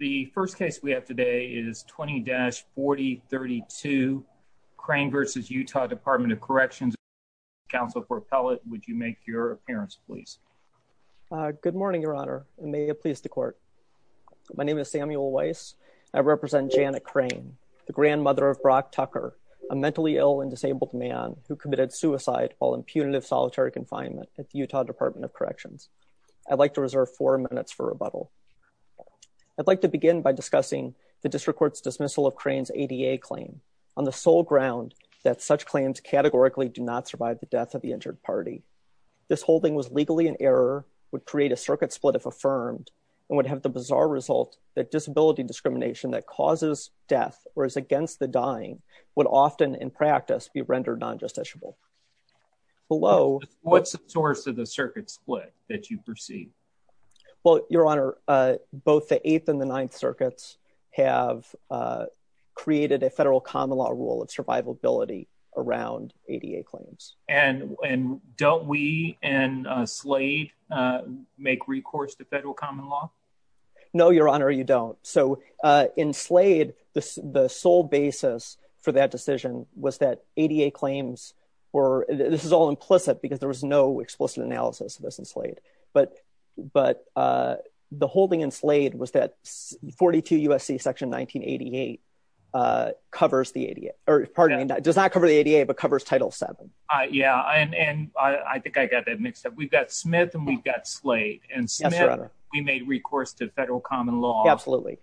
The first case we have today is 20-4032 Crane v. Utah Department of Corrections. Counsel for Appellate, would you make your appearance, please? Good morning, Your Honor, and may it please the Court. My name is Samuel Weiss. I represent Janet Crane, the grandmother of Brock Tucker, a mentally ill and disabled man who committed suicide while in punitive solitary confinement at the Utah Department of Corrections. I'd like to reserve four minutes for rebuttal. I'd like to begin by discussing the District Court's dismissal of Crane's ADA claim, on the sole ground that such claims categorically do not survive the death of the injured party. This holding was legally in error, would create a circuit split if affirmed, and would have the bizarre result that disability discrimination that causes death or is against the dying would often, in practice, be rendered non-justiciable. What's the source of the circuit split that you perceive? Well, Your Honor, both the Eighth and the Ninth Circuits have created a federal common law rule of survivability around ADA claims. And don't we in Slade make recourse to federal common law? No, Your Honor, you don't. So in Slade, the sole basis for that decision was that ADA claims were, this is all implicit because there was no explicit analysis of this in Slade. But the holding in Slade was that 42 U.S.C. Section 1988 covers the ADA, or pardon me, does not cover the ADA, but covers Title VII. Yeah, and I think I got that mixed up. We've got Smith and we've got Slade. And Smith, we made recourse to federal common law. Absolutely.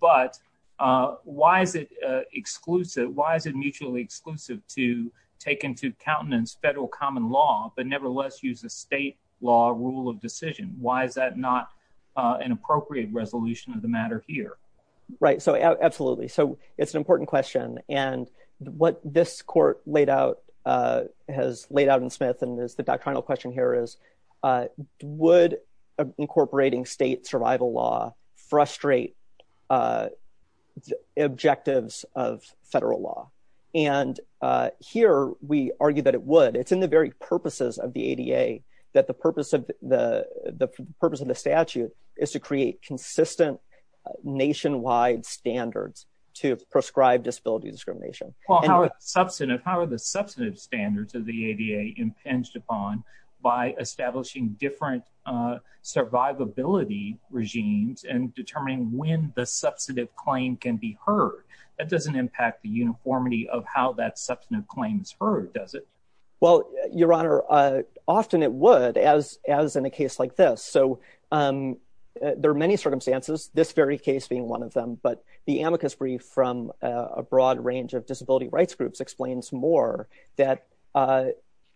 But why is it mutually exclusive to take into countenance federal common law, but nevertheless use a state law rule of decision? Why is that not an appropriate resolution of the matter here? Right. So absolutely. So it's an important question. And what this court laid out, has laid out in Smith and is the doctrinal question here is, would incorporating state survival law frustrate objectives of federal law? And here we argue that it would. It's in the very purposes of the ADA that the purpose of the statute is to create consistent nationwide standards to prescribe disability discrimination. How are the substantive standards of the ADA impinged upon by establishing different survivability regimes and determining when the substantive claim can be heard? That doesn't impact the uniformity of how that substantive claim is heard, does it? Well, Your Honor, often it would, as in a case like this. So there are many circumstances, this very case being one of them, but the amicus brief from a broad range of disability rights groups explains more that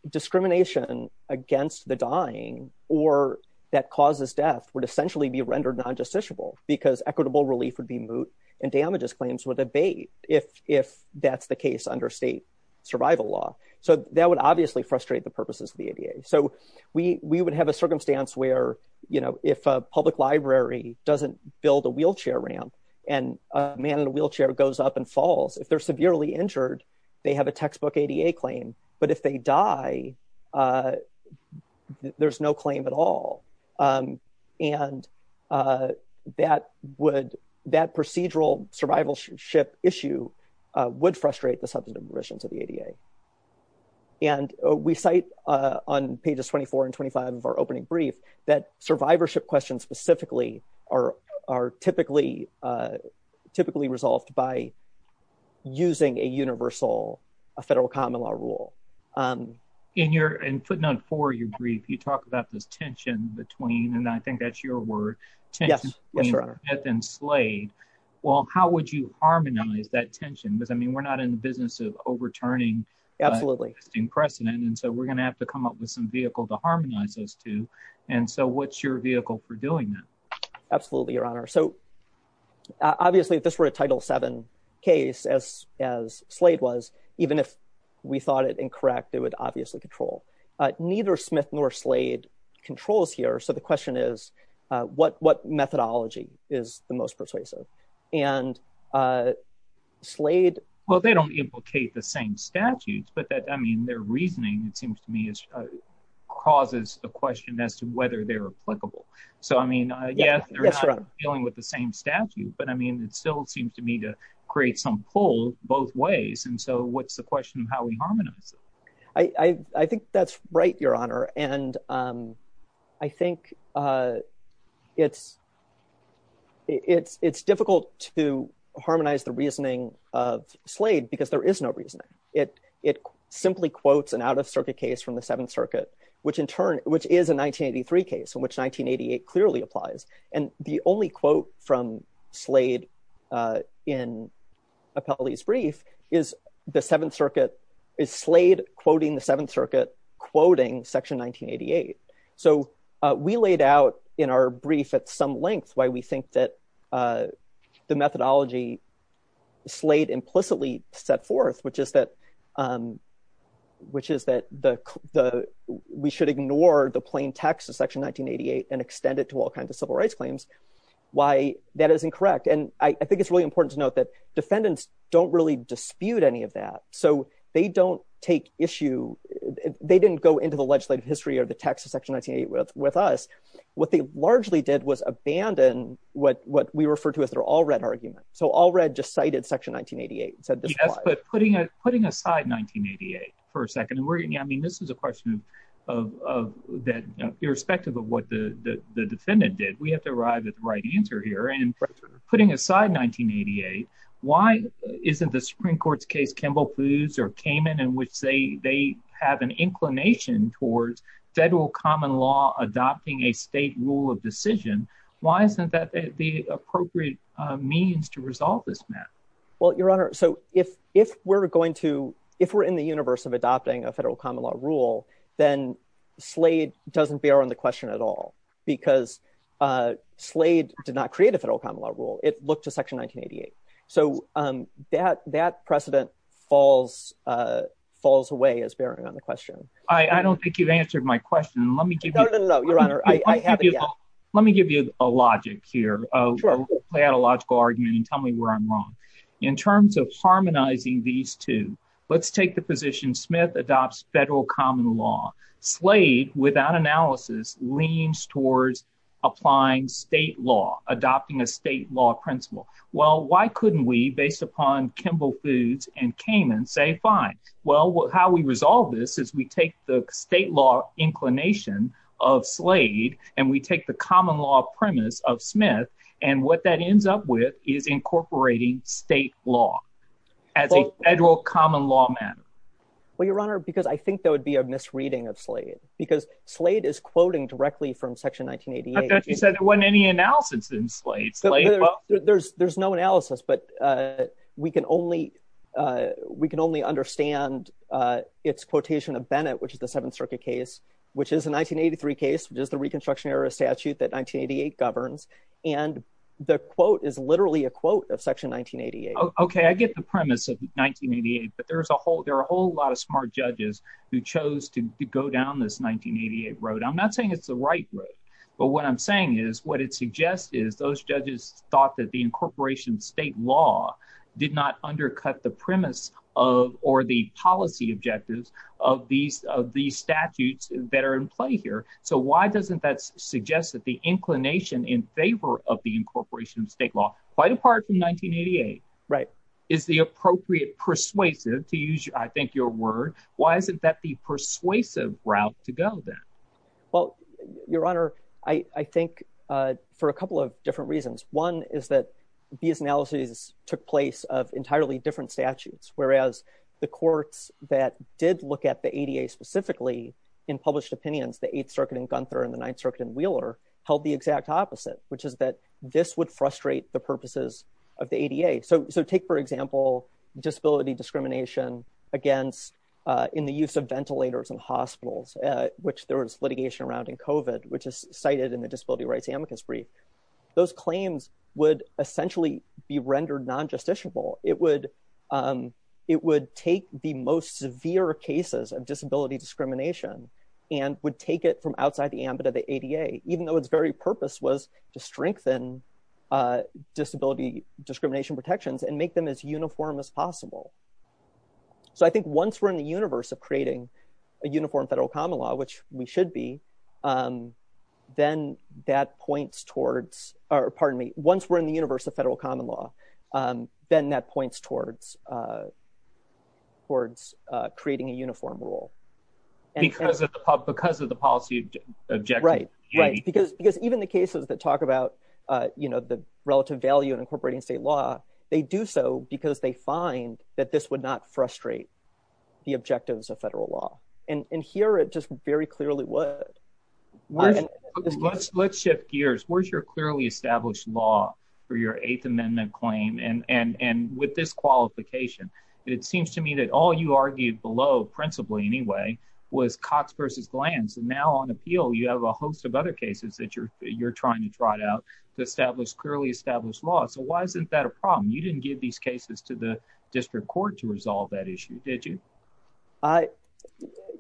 discrimination against the dying or that causes death would essentially be rendered non-justiciable because equitable relief would be moot and damages claims would abate if that's the case under state survival law. So that would obviously frustrate the purposes of the ADA. So we would have a circumstance where, if a public library doesn't build a wheelchair ramp and a man in a wheelchair goes up and falls, if they're severely injured, they have a textbook ADA claim, but if they die, there's no claim at all. And that would, that procedural survivalship issue would frustrate the substantive provisions of the ADA. And we cite on pages 24 and 25 of our opening brief that survivorship questions specifically are typically, typically resolved by using a universal, a federal common law rule. Um, in your, in putting on for your brief, you talk about this tension between, and I think that's your word. Yes. And Slade, well, how would you harmonize that tension? Because I mean, we're not in the business of overturning precedent. And so we're going to have to come up with some vehicle to harmonize those two. And so what's your vehicle for doing that? Absolutely. Your honor. So obviously this were a title seven case as, as Slade was, even if we thought it incorrect, it would obviously control neither Smith nor Slade controls here. So the question is what, what methodology is the most persuasive and Slade? Well, they don't implicate the same statutes, but that, I mean, their reasoning, it seems to me is causes the question as to whether they're applicable. So, I mean, yeah, dealing with the same statute, but I mean, it still seems to me to create some pull both ways. And so what's the question of how we harmonize it? I think that's right, your honor. And I think it's, it's, it's difficult to harmonize the reasoning of Slade because there is no reason. It, it simply quotes an out of circuit case from the seventh circuit, which in turn, which is a 1983 case in which 1988 clearly applies. And the only quote from Slade in Appellee's brief is the seventh circuit is Slade quoting the seventh circuit, quoting section 1988. So we laid out in our brief at some length, why we think that the methodology Slade implicitly set forth, which is that which is that the, the, we should ignore the plain text of section 1988 and extend it to all kinds of civil rights claims. Why that is incorrect. And I think it's really important to note that defendants don't really dispute any of that. So they don't take issue. They didn't go into the legislative history or the text of section 1988 with us. What they largely did was abandon what, what we refer to as their all red argument. So all red just cited section 1988 and said, yes, but putting it, putting aside 1988 for a second. And we're, I mean, this is a question of, of that irrespective of what the defendant did, we have to arrive at the right answer here. And putting aside 1988, why isn't the Supreme court's case, Kimball plews or came in and would say they have an inclination towards federal common law, adopting a state rule of decision. Why isn't that the appropriate means to resolve this map? Well, your honor. So if, if we're going to, if we're in the universe of adopting a federal common law rule, then Slade doesn't bear on the question at all because Slade did not create a federal common law rule. It looked to section 1988. So that, that precedent falls, falls away as bearing on the question. I don't think you've answered my question. Let me give you, let me give you a logic here, play out a logical argument and tell me where I'm wrong in terms of harmonizing these two. Let's take the position Smith adopts federal common law Slade without analysis leans towards applying state law, adopting a state law principle. Well, why couldn't we based upon Kimball foods and came and say, fine, well, how we resolve this is we take the state law inclination of Slade and we take the common law premise of Smith. And what that ends up with is incorporating state law as a federal common law man. Well, your honor, because I think that would be a misreading of Slade because Slade is quoting directly from section 1988. You said there wasn't any analysis in Slade. There's, there's no analysis, but we can only we can only understand it's quotation of Bennett, which is the seventh circuit case, which is a 1983 case, which is the reconstruction era statute that 1988 governs. And the quote is literally a quote of section 1988. Okay. I get the premise of 1988, but there's a whole, there are a whole lot of smart judges who chose to go down this 1988 road. I'm not saying it's the right road, but what I'm saying is what it suggests is those judges thought that the incorporation state law did not undercut the premise of, or the policy objectives of these, of these statutes that are in play here. So why doesn't that suggest that the inclination in favor of the incorporation of state law quite apart from 1988, right? Is the appropriate persuasive to use? I think your word, why isn't that the persuasive route to go then? Well, your honor, I think for a couple of different reasons. One is that these analyses took place of entirely different statutes, whereas the courts that did look at the ADA specifically in published opinions, the eighth circuit in Gunther and the ninth circuit in Wheeler held the exact opposite, which is that this would frustrate the purposes of the ADA. So, so take, for example, disability discrimination against in the use of ventilators and hospitals, which there was litigation around in COVID, which is cited in the disability rights amicus brief. Those claims would essentially be rendered non-justiciable. It would it would take the most severe cases of disability discrimination and would take it from outside the ambit of the ADA, even though its very purpose was to strengthen disability discrimination protections and make them as uniform as possible. So I think once we're in the universe of creating a uniform federal common law, which we should be, then that points towards, or pardon me, once we're in the universe of federal common law, then that points towards towards creating a uniform rule. Because of the policy objective. Right, right. Because, because even the cases that talk about, you know, the relative value and incorporating state law, they do so because they find that this would not frustrate the objectives of federal law. And here it just very clearly would. Let's, let's shift gears. Where's your clearly established law for your eighth amendment claim? And, and, and with this qualification, it seems to me that all you argued below, principally anyway, was Cox versus Glantz. And now on appeal, you have a host of other cases that you're, you're trying to trot out to establish clearly established law. So why isn't that a problem? You didn't give these cases to the district court to resolve that issue, did you? I,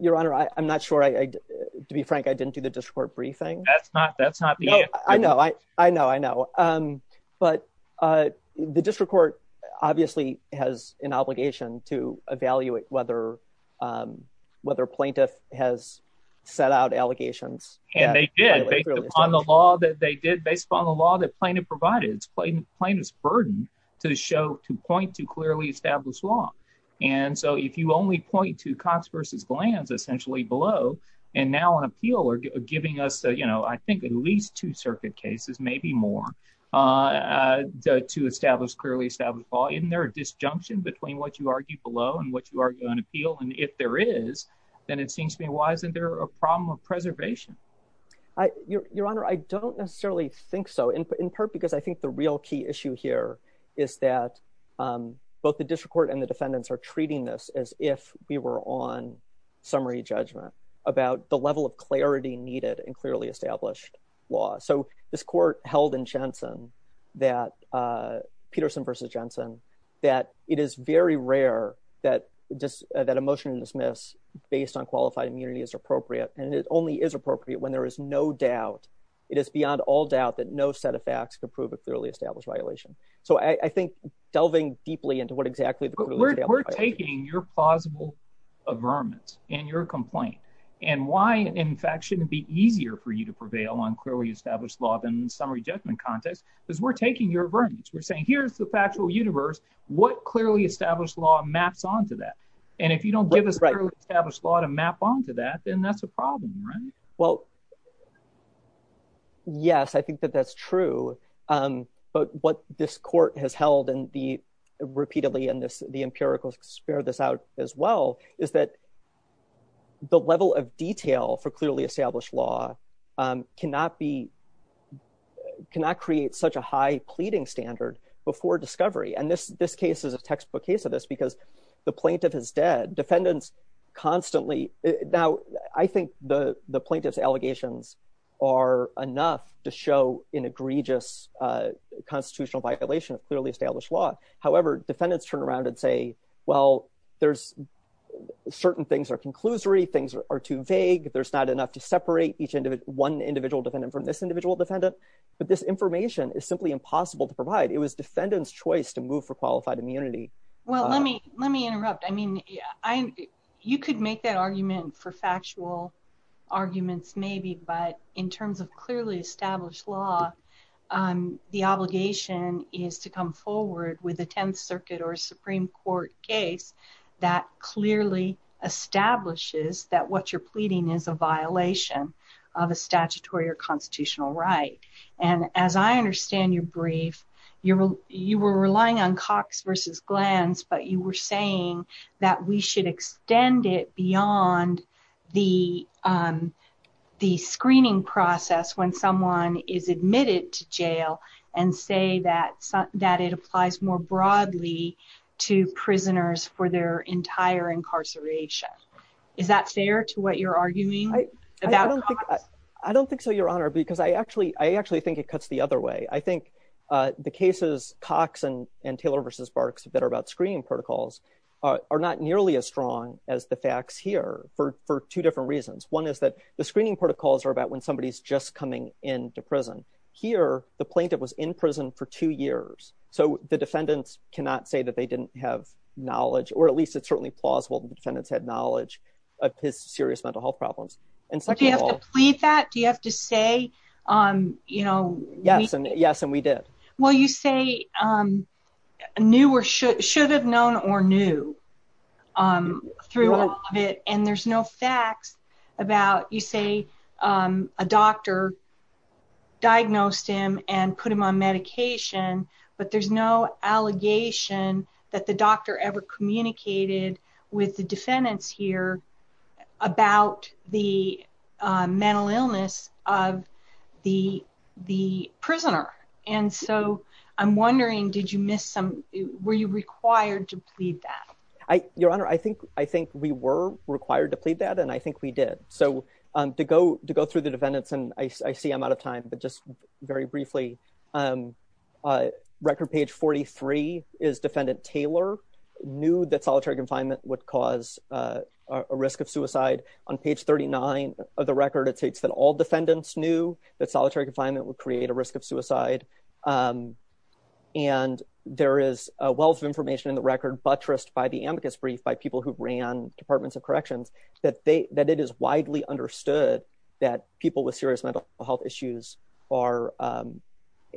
your honor, I'm not sure I, to be frank, I didn't do the district court briefing. That's not, that's not the answer. I know, I know, I know. But the district court obviously has an obligation to evaluate whether, um, whether plaintiff has set out allegations. And they did, based upon the law that they did, based upon the law that plaintiff provided, it's plaintiff's burden to show, to point to clearly established law. And so if you only point to Cox versus Glantz, essentially below, and now on appeal are giving us, you know, I think at least two circuit cases, maybe more, uh, uh, to establish clearly established law, isn't there a disjunction between what you argue below and what you argue on appeal? And if there is, then it seems to me, why isn't there a problem of preservation? I, your honor, I don't necessarily think so in part, because I think the real key issue here is that, um, both the district court and the defendants are treating this as if we were on summary judgment about the level of clarity needed and clearly established law. So this court held in Jensen that, uh, Peterson versus Jensen, that it is very rare that just that a motion to dismiss based on qualified immunity is appropriate. And it only is appropriate when there is no doubt. It is beyond all doubt that no set of facts could prove a clearly established violation. So I think delving deeply into what exactly we're taking your plausible averments and your complaint and why, in fact, shouldn't it be easier for you to prevail on clearly established law than summary judgment context, because we're taking your averments. We're saying, here's the factual universe, what clearly established law maps onto that. And if you don't give us established law to map onto that, then that's a problem, right? Well, yes, I think that that's true. Um, but what this court has held in the, repeatedly in this, the empirical sphere, this out as well is that the level of detail for clearly established law, um, cannot be, cannot create such a high pleading standard before discovery. And this, this case is a textbook case of this because the plaintiff is dead. Defendants constantly. Now I think the plaintiff's allegations are enough to show an egregious, uh, constitutional violation of clearly established law. However, defendants turn around and say, well, there's certain things are conclusory. Things are too vague. There's not enough to separate each individual, one individual defendant from this individual defendant. But this information is simply impossible to provide. It was defendants choice to move for qualified immunity. Well, let me, let me interrupt. I mean, I, you could make that argument for factual arguments maybe, but in terms of clearly established law, um, the obligation is to come forward with a 10th circuit or Supreme court case that clearly establishes that what you're pleading is a violation of a statutory or constitutional right. And as I understand your brief, you're, you were relying on Cox versus glands, but you were saying that we should extend it beyond the, um, the screening process when someone is admitted to jail and say that it applies more broadly to prisoners for their entire incarceration. Is that fair to what you're arguing about? I don't think so your honor, because I actually, I actually think it cuts the other way. I think, uh, the cases Cox and, and Taylor versus barks that are about screening protocols are not nearly as strong as the facts here for, for two different reasons. One is that the screening protocols are about when somebody is just coming into prison here, the plaintiff was in prison for two years. So the defendants cannot say that they didn't have knowledge, or at least it's certainly plausible that the defendants had knowledge of his serious mental health problems. Do you have to plead that? Do you have to say, um, you know, yes. And yes, and we did, well, you say, um, new or should have known or knew, um, through it. And there's no facts about, you say, um, a doctor diagnosed him and put him on medication, but there's no allegation that the doctor ever communicated with the defendants here about the, uh, mental illness of the, the prisoner. And so I'm wondering, did you miss some, were you required to plead that? I, your honor, I think, I think we were required to plead that. And I think we did. So, um, to go, to go through the defendants and I see I'm out of time, but just very briefly, um, uh, record page 43 is defendant Taylor knew that solitary confinement would cause, uh, a risk of suicide on page 39 of the record. It states that all defendants knew that solitary confinement would create a risk of suicide. Um, and there is a wealth of information in the record buttressed by the amicus brief by people who ran departments of corrections that they, that it is widely understood that people with serious mental health issues are, um,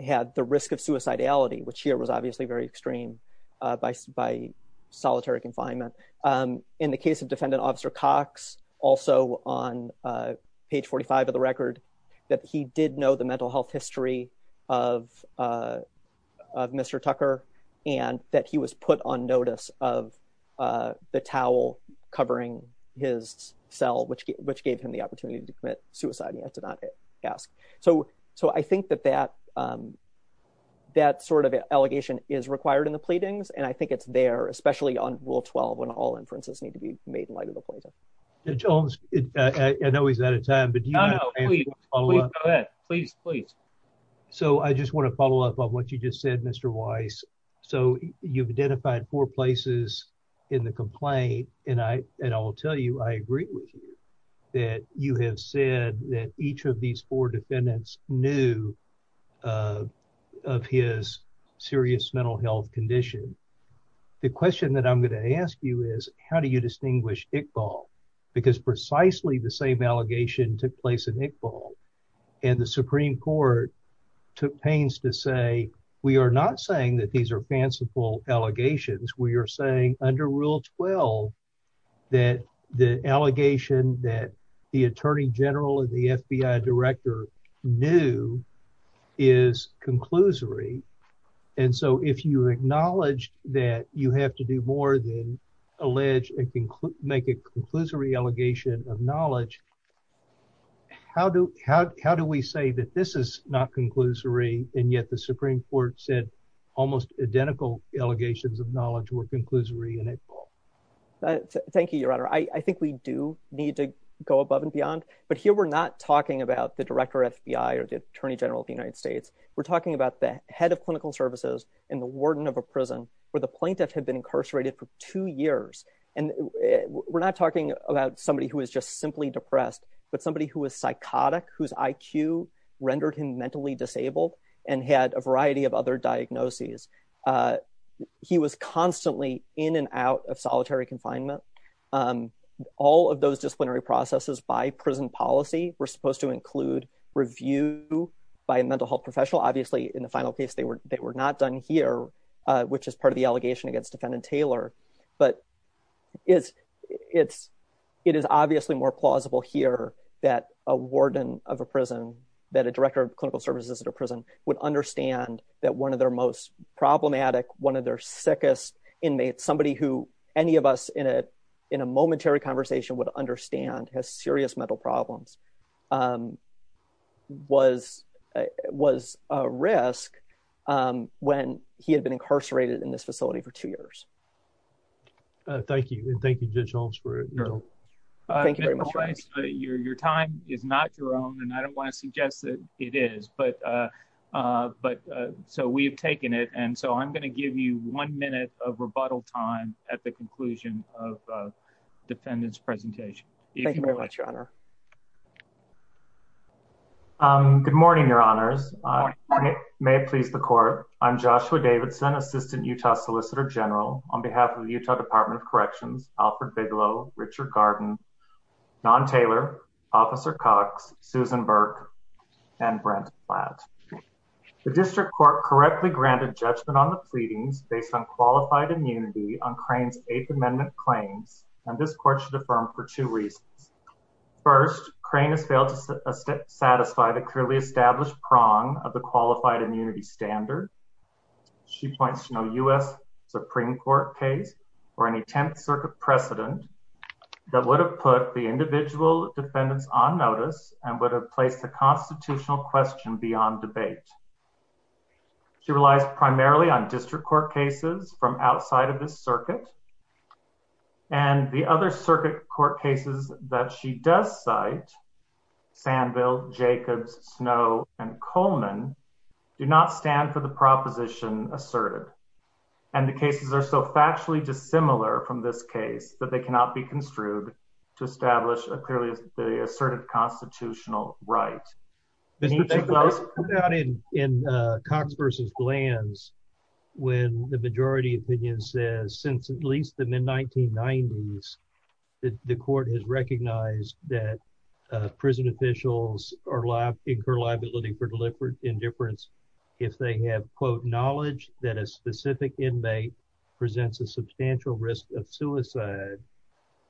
had the risk of suicidality, which here was obviously very extreme, uh, by, by solitary confinement. Um, in the case of defendant officer Cox also on, uh, page 45 of the record that he did know the mental health history of, uh, of Mr. Tucker and that he was put on notice of, uh, the towel covering his cell, which, which gave him the opportunity to commit suicide. He had to not ask. So, so I think that, that, um, that sort of allegation is required in the pleadings. And I think it's there, especially on rule 12, when all inferences need to be made in light of the poison. The Jones, I know he's out of time, but do you know, please, please, please. So I just want to follow up on what you just said, Mr. Weiss. So you've identified four places in the complaint. And I, and I will tell you, I agree with you that you have said that each of these four defendants knew, uh, of his serious mental health condition. The question that I'm going to ask you is how do you distinguish Iqbal? Because precisely the same allegation took place in Iqbal and the Supreme court took pains to say, we are not saying that these are fanciful allegations. We are saying under rule 12, that the allegation that the attorney general of the FBI director knew is conclusory. And so if you acknowledge that you have to do more than allege and make a conclusory allegation of knowledge, how do, how, how do we say that this is not conclusory? And yet the Supreme court said almost identical allegations of knowledge were conclusory in Iqbal. Thank you, your honor. I think we do need to go above and beyond, but here we're not talking about the director FBI or the attorney general of the United States. We're talking about the head of clinical services and the warden of a prison where the plaintiff had been incarcerated for two years. And we're not talking about somebody who was just simply depressed, but somebody who was psychotic, whose IQ rendered him mentally disabled and had a variety of other diagnoses. Uh, he was constantly in and out of solitary confinement. Um, all of those disciplinary processes by prison policy, we're supposed to include review by a mental health professional, obviously in the final case, they were, they were not done here, uh, which is part of the allegation against defendant Taylor, but it's, it's, it is obviously more plausible here that a warden of a prison that a director of clinical services at a prison would understand that one of their most problematic, one of their sickest inmates, somebody who any of us in a, in a momentary conversation would understand has serious mental problems, um, was, uh, was a risk, um, when he had been incarcerated in this facility for two years. Uh, thank you. And thank you judge Holmes for it. Your time is not your own, and I don't want to suggest that it is, but, uh, uh, but, uh, so we have taken it. And so I'm going to give you one minute of rebuttal time at the conclusion of, defendants presentation. Thank you very much, your honor. Um, good morning, your honors. May it please the court. I'm Joshua Davidson, assistant Utah solicitor general on behalf of the Utah department of corrections, Alfred Bigelow, Richard garden, non-Taylor officer Cox, Susan Burke, and Brent. The district court correctly granted judgment on the pleadings based on qualified immunity on crane's eighth amendment claims. And this court should affirm for two reasons. First crane has failed to satisfy the clearly established prong of the qualified immunity standard. She points to no us Supreme court case or any 10th circuit precedent that would have put the individual defendants on notice and would have placed the constitutional question beyond debate. She relies primarily on district court cases from outside of this circuit and the other circuit court cases that she does site Sanville Jacobs, snow and Coleman do not stand for the proposition asserted. And the cases are so factually dissimilar from this case that they cannot be construed to establish a clearly asserted constitutional right. In Cox versus glands, when the majority opinion says since at least the mid 1990s, the court has recognized that prison officials are allowed to incur liability for deliberate indifference. If they have quote knowledge that a specific inmate presents a substantial risk of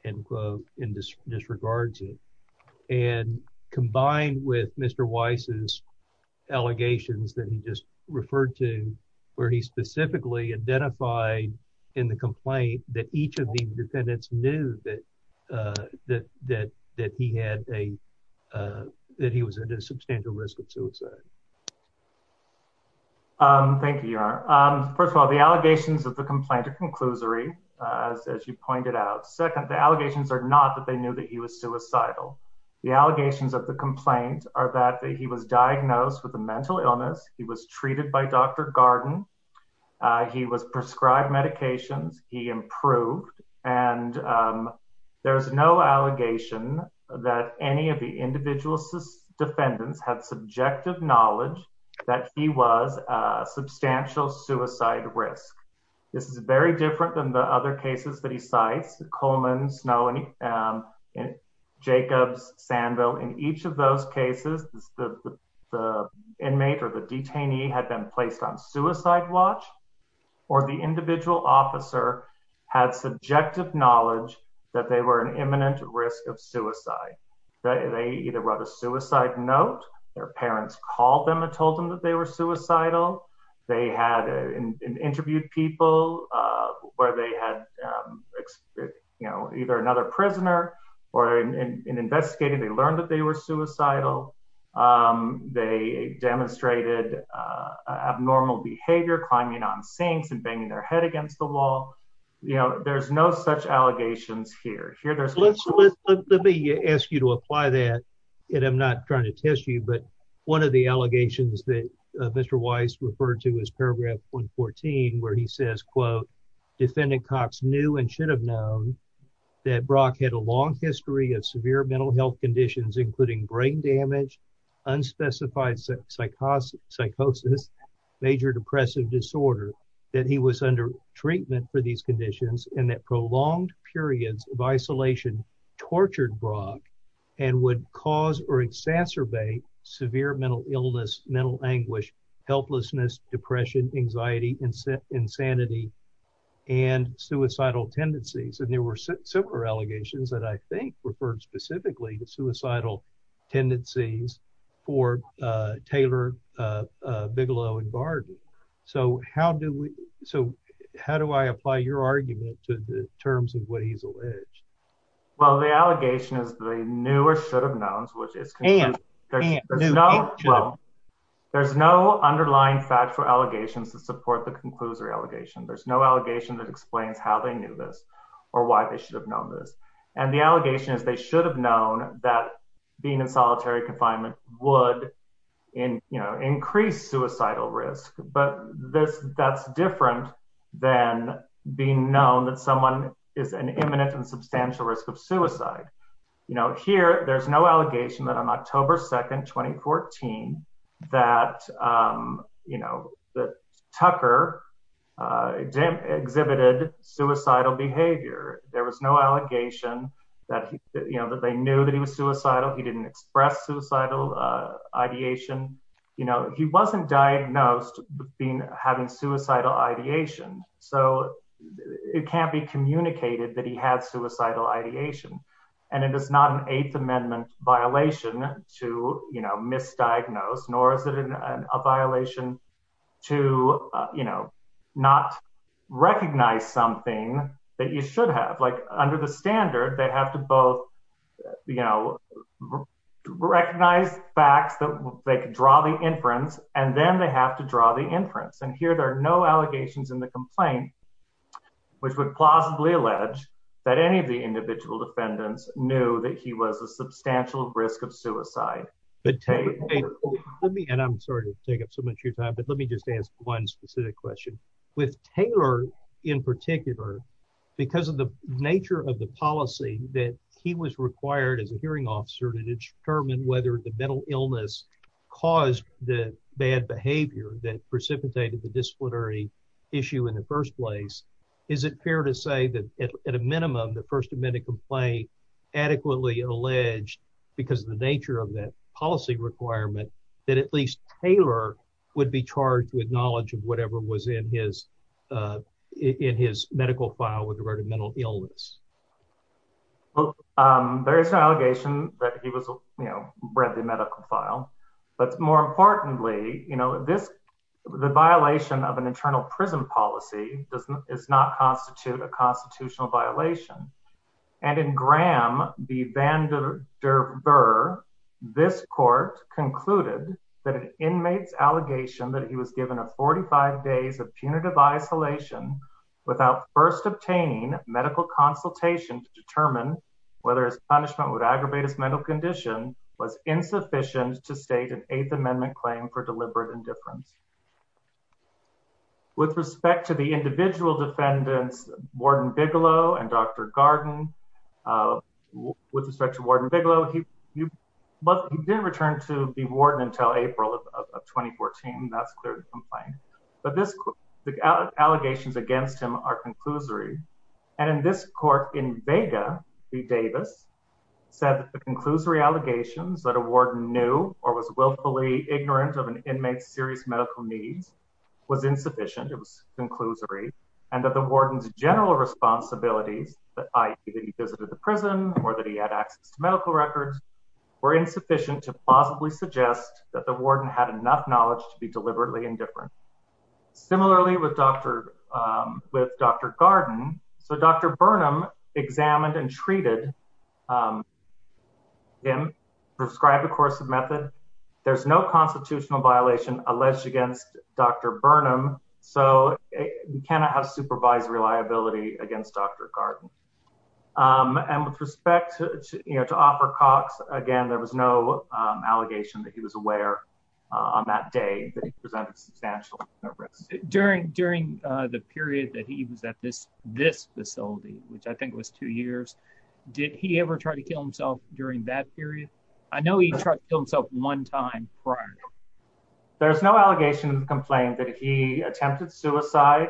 in this disregards it and combined with Mr Weiss's allegations that he just referred to where he specifically identified in the complaint that each of the defendants knew that that that that he had a that he was at a substantial risk of suicide. Thank you, Your Honor. First of all, the allegations of the complaint to conclusory as you pointed out. Second, the allegations are not that they knew that he was suicidal. The allegations of the complaint are that he was diagnosed with a mental illness. He was treated by Dr Garden. He was prescribed medications. He improved and there's no allegation that any of the individual defendants had subjective knowledge that he was substantial suicide risk. This is very different than the other cases that he cites the Coleman's knowing and Jacobs Sandville. In each of those cases, the inmate or the detainee had been placed on suicide watch, or the individual officer had subjective knowledge that they were an imminent risk of suicide. They either wrote a suicide note, their parents called them and told them that they were suicidal. They had interviewed people where they had, you know, either another prisoner, or in investigating, they learned that they were suicidal. They demonstrated abnormal behavior, climbing on sinks and banging their head against the wall. You know, there's no such allegations here. Here, there's let's let me ask you to apply that. And I'm not trying to test you. But one of the where he says, quote, defendant Cox knew and should have known that Brock had a long history of severe mental health conditions, including brain damage, unspecified psychosis, major depressive disorder, that he was under treatment for these conditions, and that prolonged periods of isolation, tortured Brock, and would cause or exacerbate severe mental illness, mental anguish, helplessness, depression, anxiety, and insanity, and suicidal tendencies. And there were similar allegations that I think referred specifically to suicidal tendencies for Taylor, Bigelow and Barden. So how do we so how do I apply your argument to the terms of what he's alleged? Well, the allegation is the newer should have knowns which is there's no underlying factual allegations to support the conclusory allegation. There's no allegation that explains how they knew this, or why they should have known this. And the allegation is they should have known that being in solitary confinement would increase suicidal risk. But this that's different than being known that someone is an imminent and substantial risk of suicide. You know, here, there's no allegation that on October 2, 2014, that, you know, that Tucker exhibited suicidal behavior, there was no allegation that, you know, that they knew that he was suicidal, he didn't express suicidal ideation, you know, he wasn't diagnosed being having suicidal ideation. So it can't be communicated that he had suicidal ideation. And it is not an Eighth Amendment violation to, you know, misdiagnosed, nor is it a violation to, you know, not recognize something that you should have, like under the standard, they have to both, you know, recognize facts that they could draw the inference, and then they have to draw the conclusion that there are no allegations in the complaint, which would plausibly allege that any of the individual defendants knew that he was a substantial risk of suicide, but let me and I'm sorry to take up so much of your time. But let me just ask one specific question with Taylor, in particular, because of the nature of the policy that he was required as a hearing officer to determine whether the mental illness caused the bad behavior that precipitated the disciplinary issue in the first place. Is it fair to say that, at a minimum, the First Amendment complaint adequately alleged, because of the nature of that policy requirement, that at least Taylor would be charged with knowledge of whatever was in his, in his medical file with regard to mental illness? Well, there is no allegation that he was, you know, read the medical file. But more importantly, you know, this, the violation of an internal prison policy doesn't is not constitute a constitutional violation. And in Graham v. Van der Ver, this court concluded that an inmate's allegation that he was given a 45 days of punitive isolation, without first obtaining medical consultation to determine whether his punishment would aggravate his mental condition was insufficient to state an Eighth Amendment claim for deliberate indifference. With respect to the individual defendants, Warden Bigelow and Dr. Garden, with respect to Warden Bigelow, he didn't return to be warden until April of 2014. That's clear to complain. But this, the allegations against him are conclusory. And in this court, in Vega v. Davis, said that the conclusory allegations that a warden knew or was willfully ignorant of an inmate's serious medical needs was insufficient, it was conclusory, and that the warden's general responsibilities, i.e. that he visited the prison or that he had access to medical records, were insufficient to plausibly suggest that the warden had enough knowledge to be deliberately indifferent. Similarly, with Dr. Garden, Dr. Burnham examined and treated him, prescribed a coercive method. There's no constitutional violation alleged against Dr. Burnham, so we cannot have supervised reliability against Dr. Garden. And with respect to Oprah Cox, again, there was no allegation that he was aware on that day that he presented substantial risk. During the period that he was at this facility, which I think was two years, did he ever try to kill himself during that period? I know he tried to kill himself one time prior. There's no allegation to complain that he attempted suicide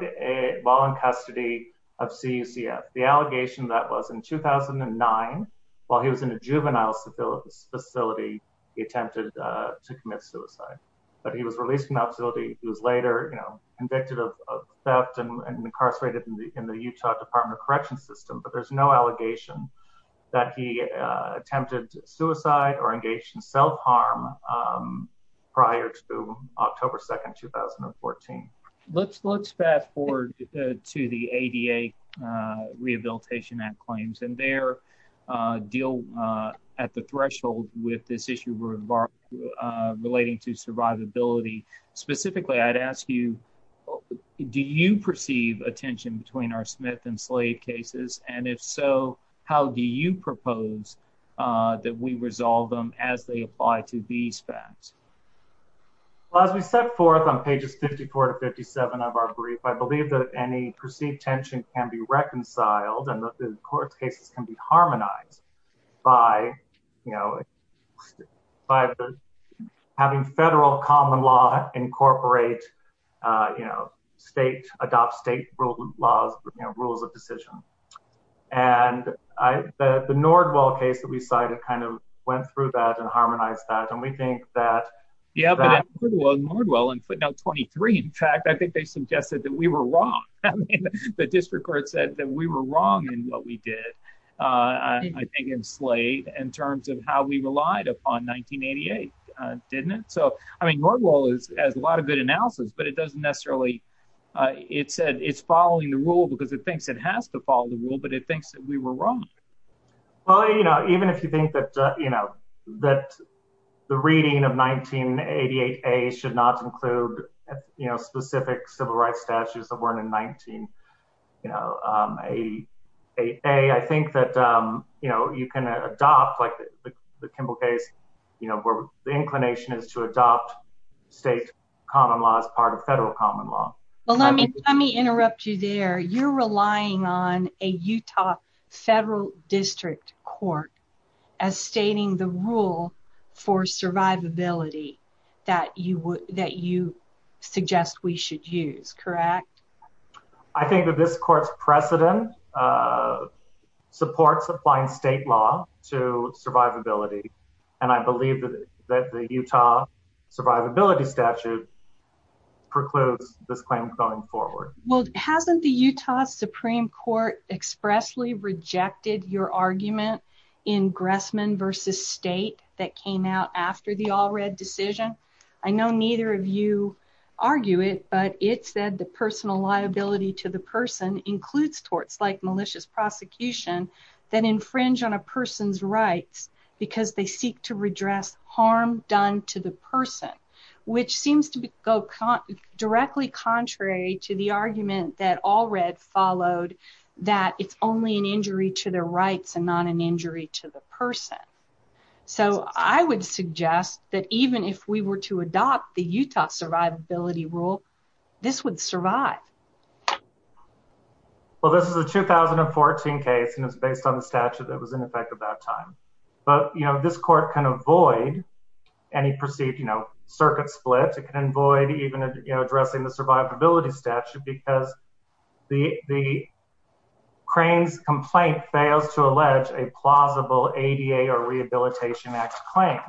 while in custody of CUCF. The allegation that was in 2009, while he was in a juvenile facility, he attempted to commit suicide. But he was released from that facility. He was later convicted of theft and incarcerated in the Utah Department of Corrections system, but there's no allegation that he attempted suicide or engaged in self-harm prior to October 2nd, 2014. Let's let's fast forward to the ADA Rehabilitation Act claims and their deal at the threshold with this issue relating to survivability. Specifically, I'd ask you, do you perceive a tension between our Smith and as they apply to these facts? Well, as we set forth on pages 54 to 57 of our brief, I believe that any perceived tension can be reconciled and that the court cases can be harmonized by, you know, by having federal common law incorporate, you know, adopt state laws, rules of decision. And the Nordwall case that we cited kind of went through that and harmonized that. And we think that... Yeah, but Nordwall in footnote 23, in fact, I think they suggested that we were wrong. The district court said that we were wrong in what we did, I think, in Slade in terms of how we relied upon 1988, didn't it? So, I mean, Nordwall has a lot of analysis, but it doesn't necessarily... It said it's following the rule because it thinks it has to follow the rule, but it thinks that we were wrong. Well, you know, even if you think that, you know, that the reading of 1988A should not include, you know, specific civil rights statutes that weren't in 1988A, I think that, you know, you can adopt like the Kimball case, you know, the inclination is to adopt state common law as part of federal common law. Well, let me interrupt you there. You're relying on a Utah federal district court as stating the rule for survivability that you suggest we should use, correct? I think that this court's precedent supports applying state law to survivability, and I believe that the Utah survivability statute precludes this claim going forward. Well, hasn't the Utah Supreme Court expressly rejected your argument in Gressman v. State that came out after the Allred decision? I know neither of you includes torts like malicious prosecution that infringe on a person's rights because they seek to redress harm done to the person, which seems to go directly contrary to the argument that Allred followed that it's only an injury to their rights and not an injury to the person. So, I would suggest that even if we were to adopt the Utah survivability rule, this would survive. Well, this is a 2014 case, and it's based on the statute that was in effect at that time. But, you know, this court can avoid any perceived, you know, circuit split. It can avoid even, you know, addressing the survivability statute because the Crane's complaint fails to allege a plausible ADA or Rehabilitation Act claim.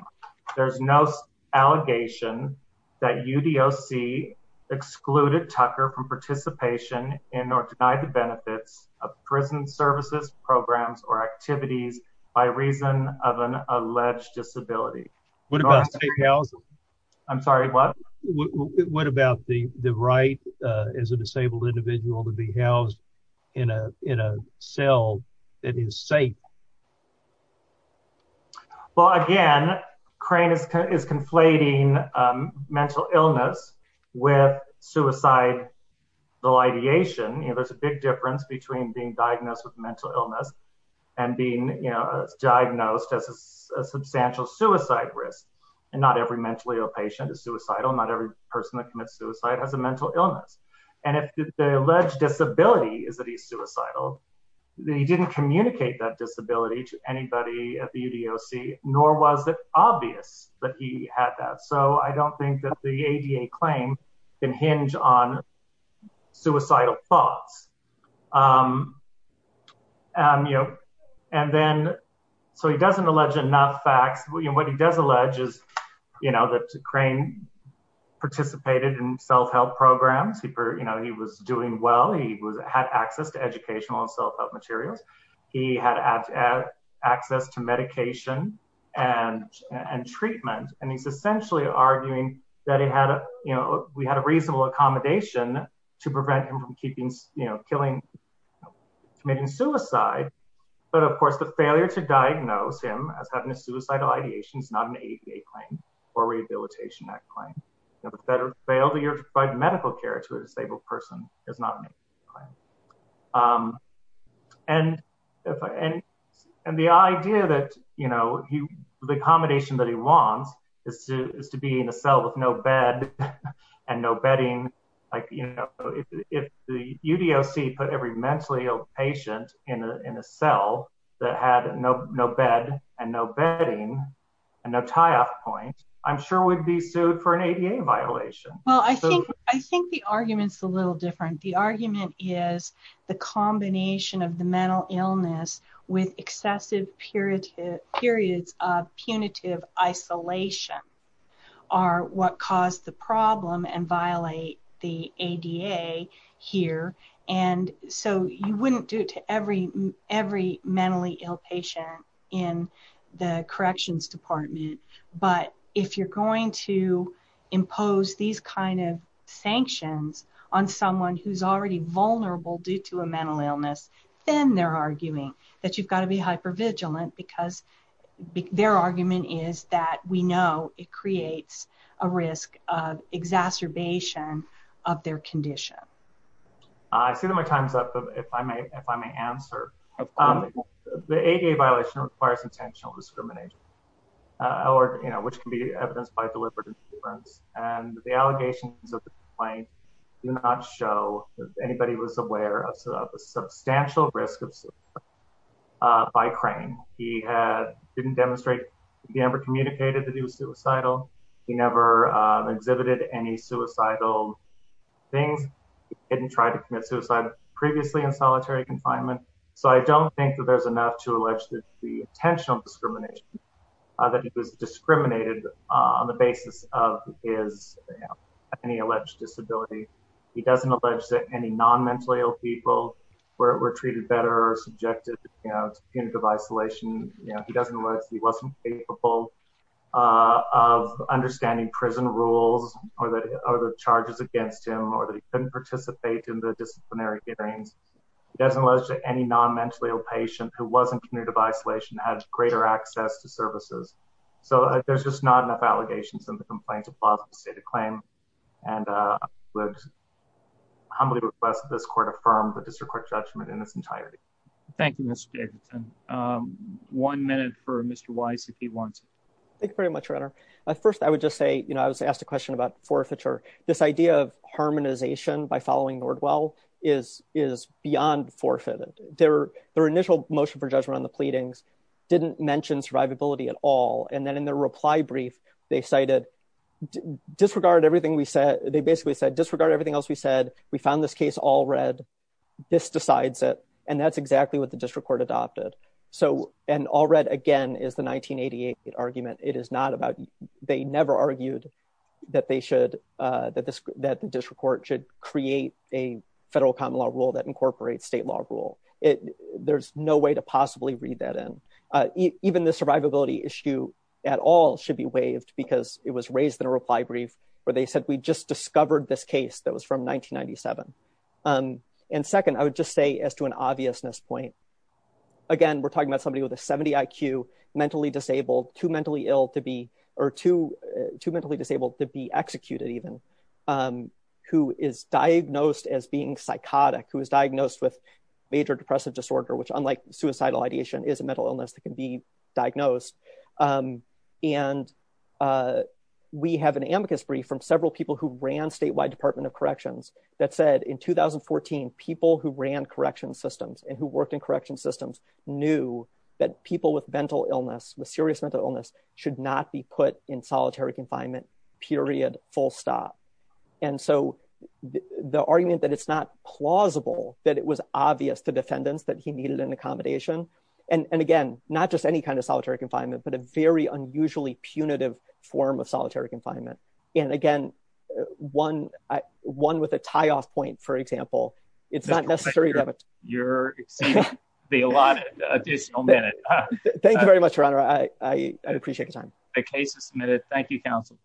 There's no allegation that UDOC excluded Tucker from participation in or denied the benefits of prison services, programs, or activities by reason of an alleged disability. What about safe housing? I'm sorry, what? What about the right as a disabled individual to be housed in a cell that is safe? Well, again, Crane is conflating mental illness with suicide delidiation. You know, there's a big difference between being diagnosed with mental illness and being, you know, diagnosed as a substantial suicide risk. And not every mentally ill patient is suicidal. Not every person that commits suicide has a mental illness. And if the alleged disability is that he's suicidal, then he didn't communicate that disability to anybody at the UDOC, nor was it obvious that he had that. So, I don't think that the ADA claim can hinge on suicidal thoughts. And then, so he doesn't allege enough facts. What he does allege is, you know, that Crane participated in self-help programs. You know, he was doing well. He had access to educational and self-help materials. He had access to medication and treatment. And he's essentially arguing that he had, you know, we had a reasonable accommodation to prevent him from committing suicide. But of course, the failure to diagnose him as having a suicidal ideation is not an ADA claim or Rehabilitation Act claim. You know, the failure to provide medical care to a disabled person is not an ADA claim. And the idea that, you know, the accommodation that he wants is to be in a cell with no bed and no bedding. Like, you know, if the UDOC put every mentally ill patient in a cell that had no bed and no bedding and no tie-off point, I'm sure we'd be sued for an ADA violation. Well, I think the argument's a little different. The argument is the combination of the mental illness with excessive periods of punitive isolation are what caused the problem and violate the ADA here. And so, you wouldn't do it to every mentally ill patient in the corrections department. But if you're going to impose these kind of sanctions on someone who's already vulnerable due to a mental illness, then they're arguing that you've got to be hypervigilant because their argument is that we know it creates a risk of exacerbation of their condition. I see that my time's up, but if I may, if I may answer. The ADA violation requires intentional discrimination or, you know, which can be evidenced by deliberate insurance. And the allegations of the complaint do not show that anybody was aware of a substantial risk of suicide by Crane. He didn't demonstrate, he never communicated that he was suicidal. He never exhibited any suicidal things. He didn't try to commit suicide previously in solitary confinement. So, I don't think that there's enough to allege that the intentional discrimination that he was discriminated on the basis of his any alleged disability. He doesn't allege that any non-mentally ill people were treated better or subjected to punitive isolation. He doesn't allege he wasn't capable of understanding prison rules or the charges against him or that he didn't participate in the disciplinary hearings. He doesn't allege that any non-mentally ill patient who wasn't punitive isolation had greater access to services. So, there's just not enough allegations in the complaints of plausible stated claim. And I would humbly request that this court affirm the district court judgment in its entirety. Thank you, Mr. Jacobson. One minute for Mr. Wise, if he wants. Thank you very much, your honor. First, I would just say, you know, I was asked a question about this idea of harmonization by following Nordwell is beyond forfeited. Their initial motion for judgment on the pleadings didn't mention survivability at all. And then in their reply brief, they cited disregard everything we said. They basically said disregard everything else we said. We found this case all read. This decides it. And that's exactly what the district court adopted. So, and all read again is the 1988 argument. It is not about they never argued that they should, that the district court should create a federal common law rule that incorporates state law rule. There's no way to possibly read that in. Even the survivability issue at all should be waived because it was raised in a reply brief where they said we just discovered this case that was from 1997. And second, I would just say as to an obviousness point, again, we're talking about somebody with a 70 IQ, mentally disabled, too mentally ill to be, or too mentally disabled to be executed even, who is diagnosed as being psychotic, who is diagnosed with major depressive disorder, which unlike suicidal ideation is a mental illness that can be diagnosed. And we have an amicus brief from several people who ran statewide department of corrections that said in 2014, people who ran correction systems and who worked in correction systems knew that people with mental illness, with serious mental illness should not be put in solitary confinement, period, full stop. And so the argument that it's not plausible, that it was obvious to defendants that he needed an accommodation. And again, not just any kind of solitary confinement, but a very It's not necessary. Just a reminder, you're exceeding the allotted additional minute. Thank you very much, Your Honor. I appreciate your time. The case is submitted. Thank you, counsel.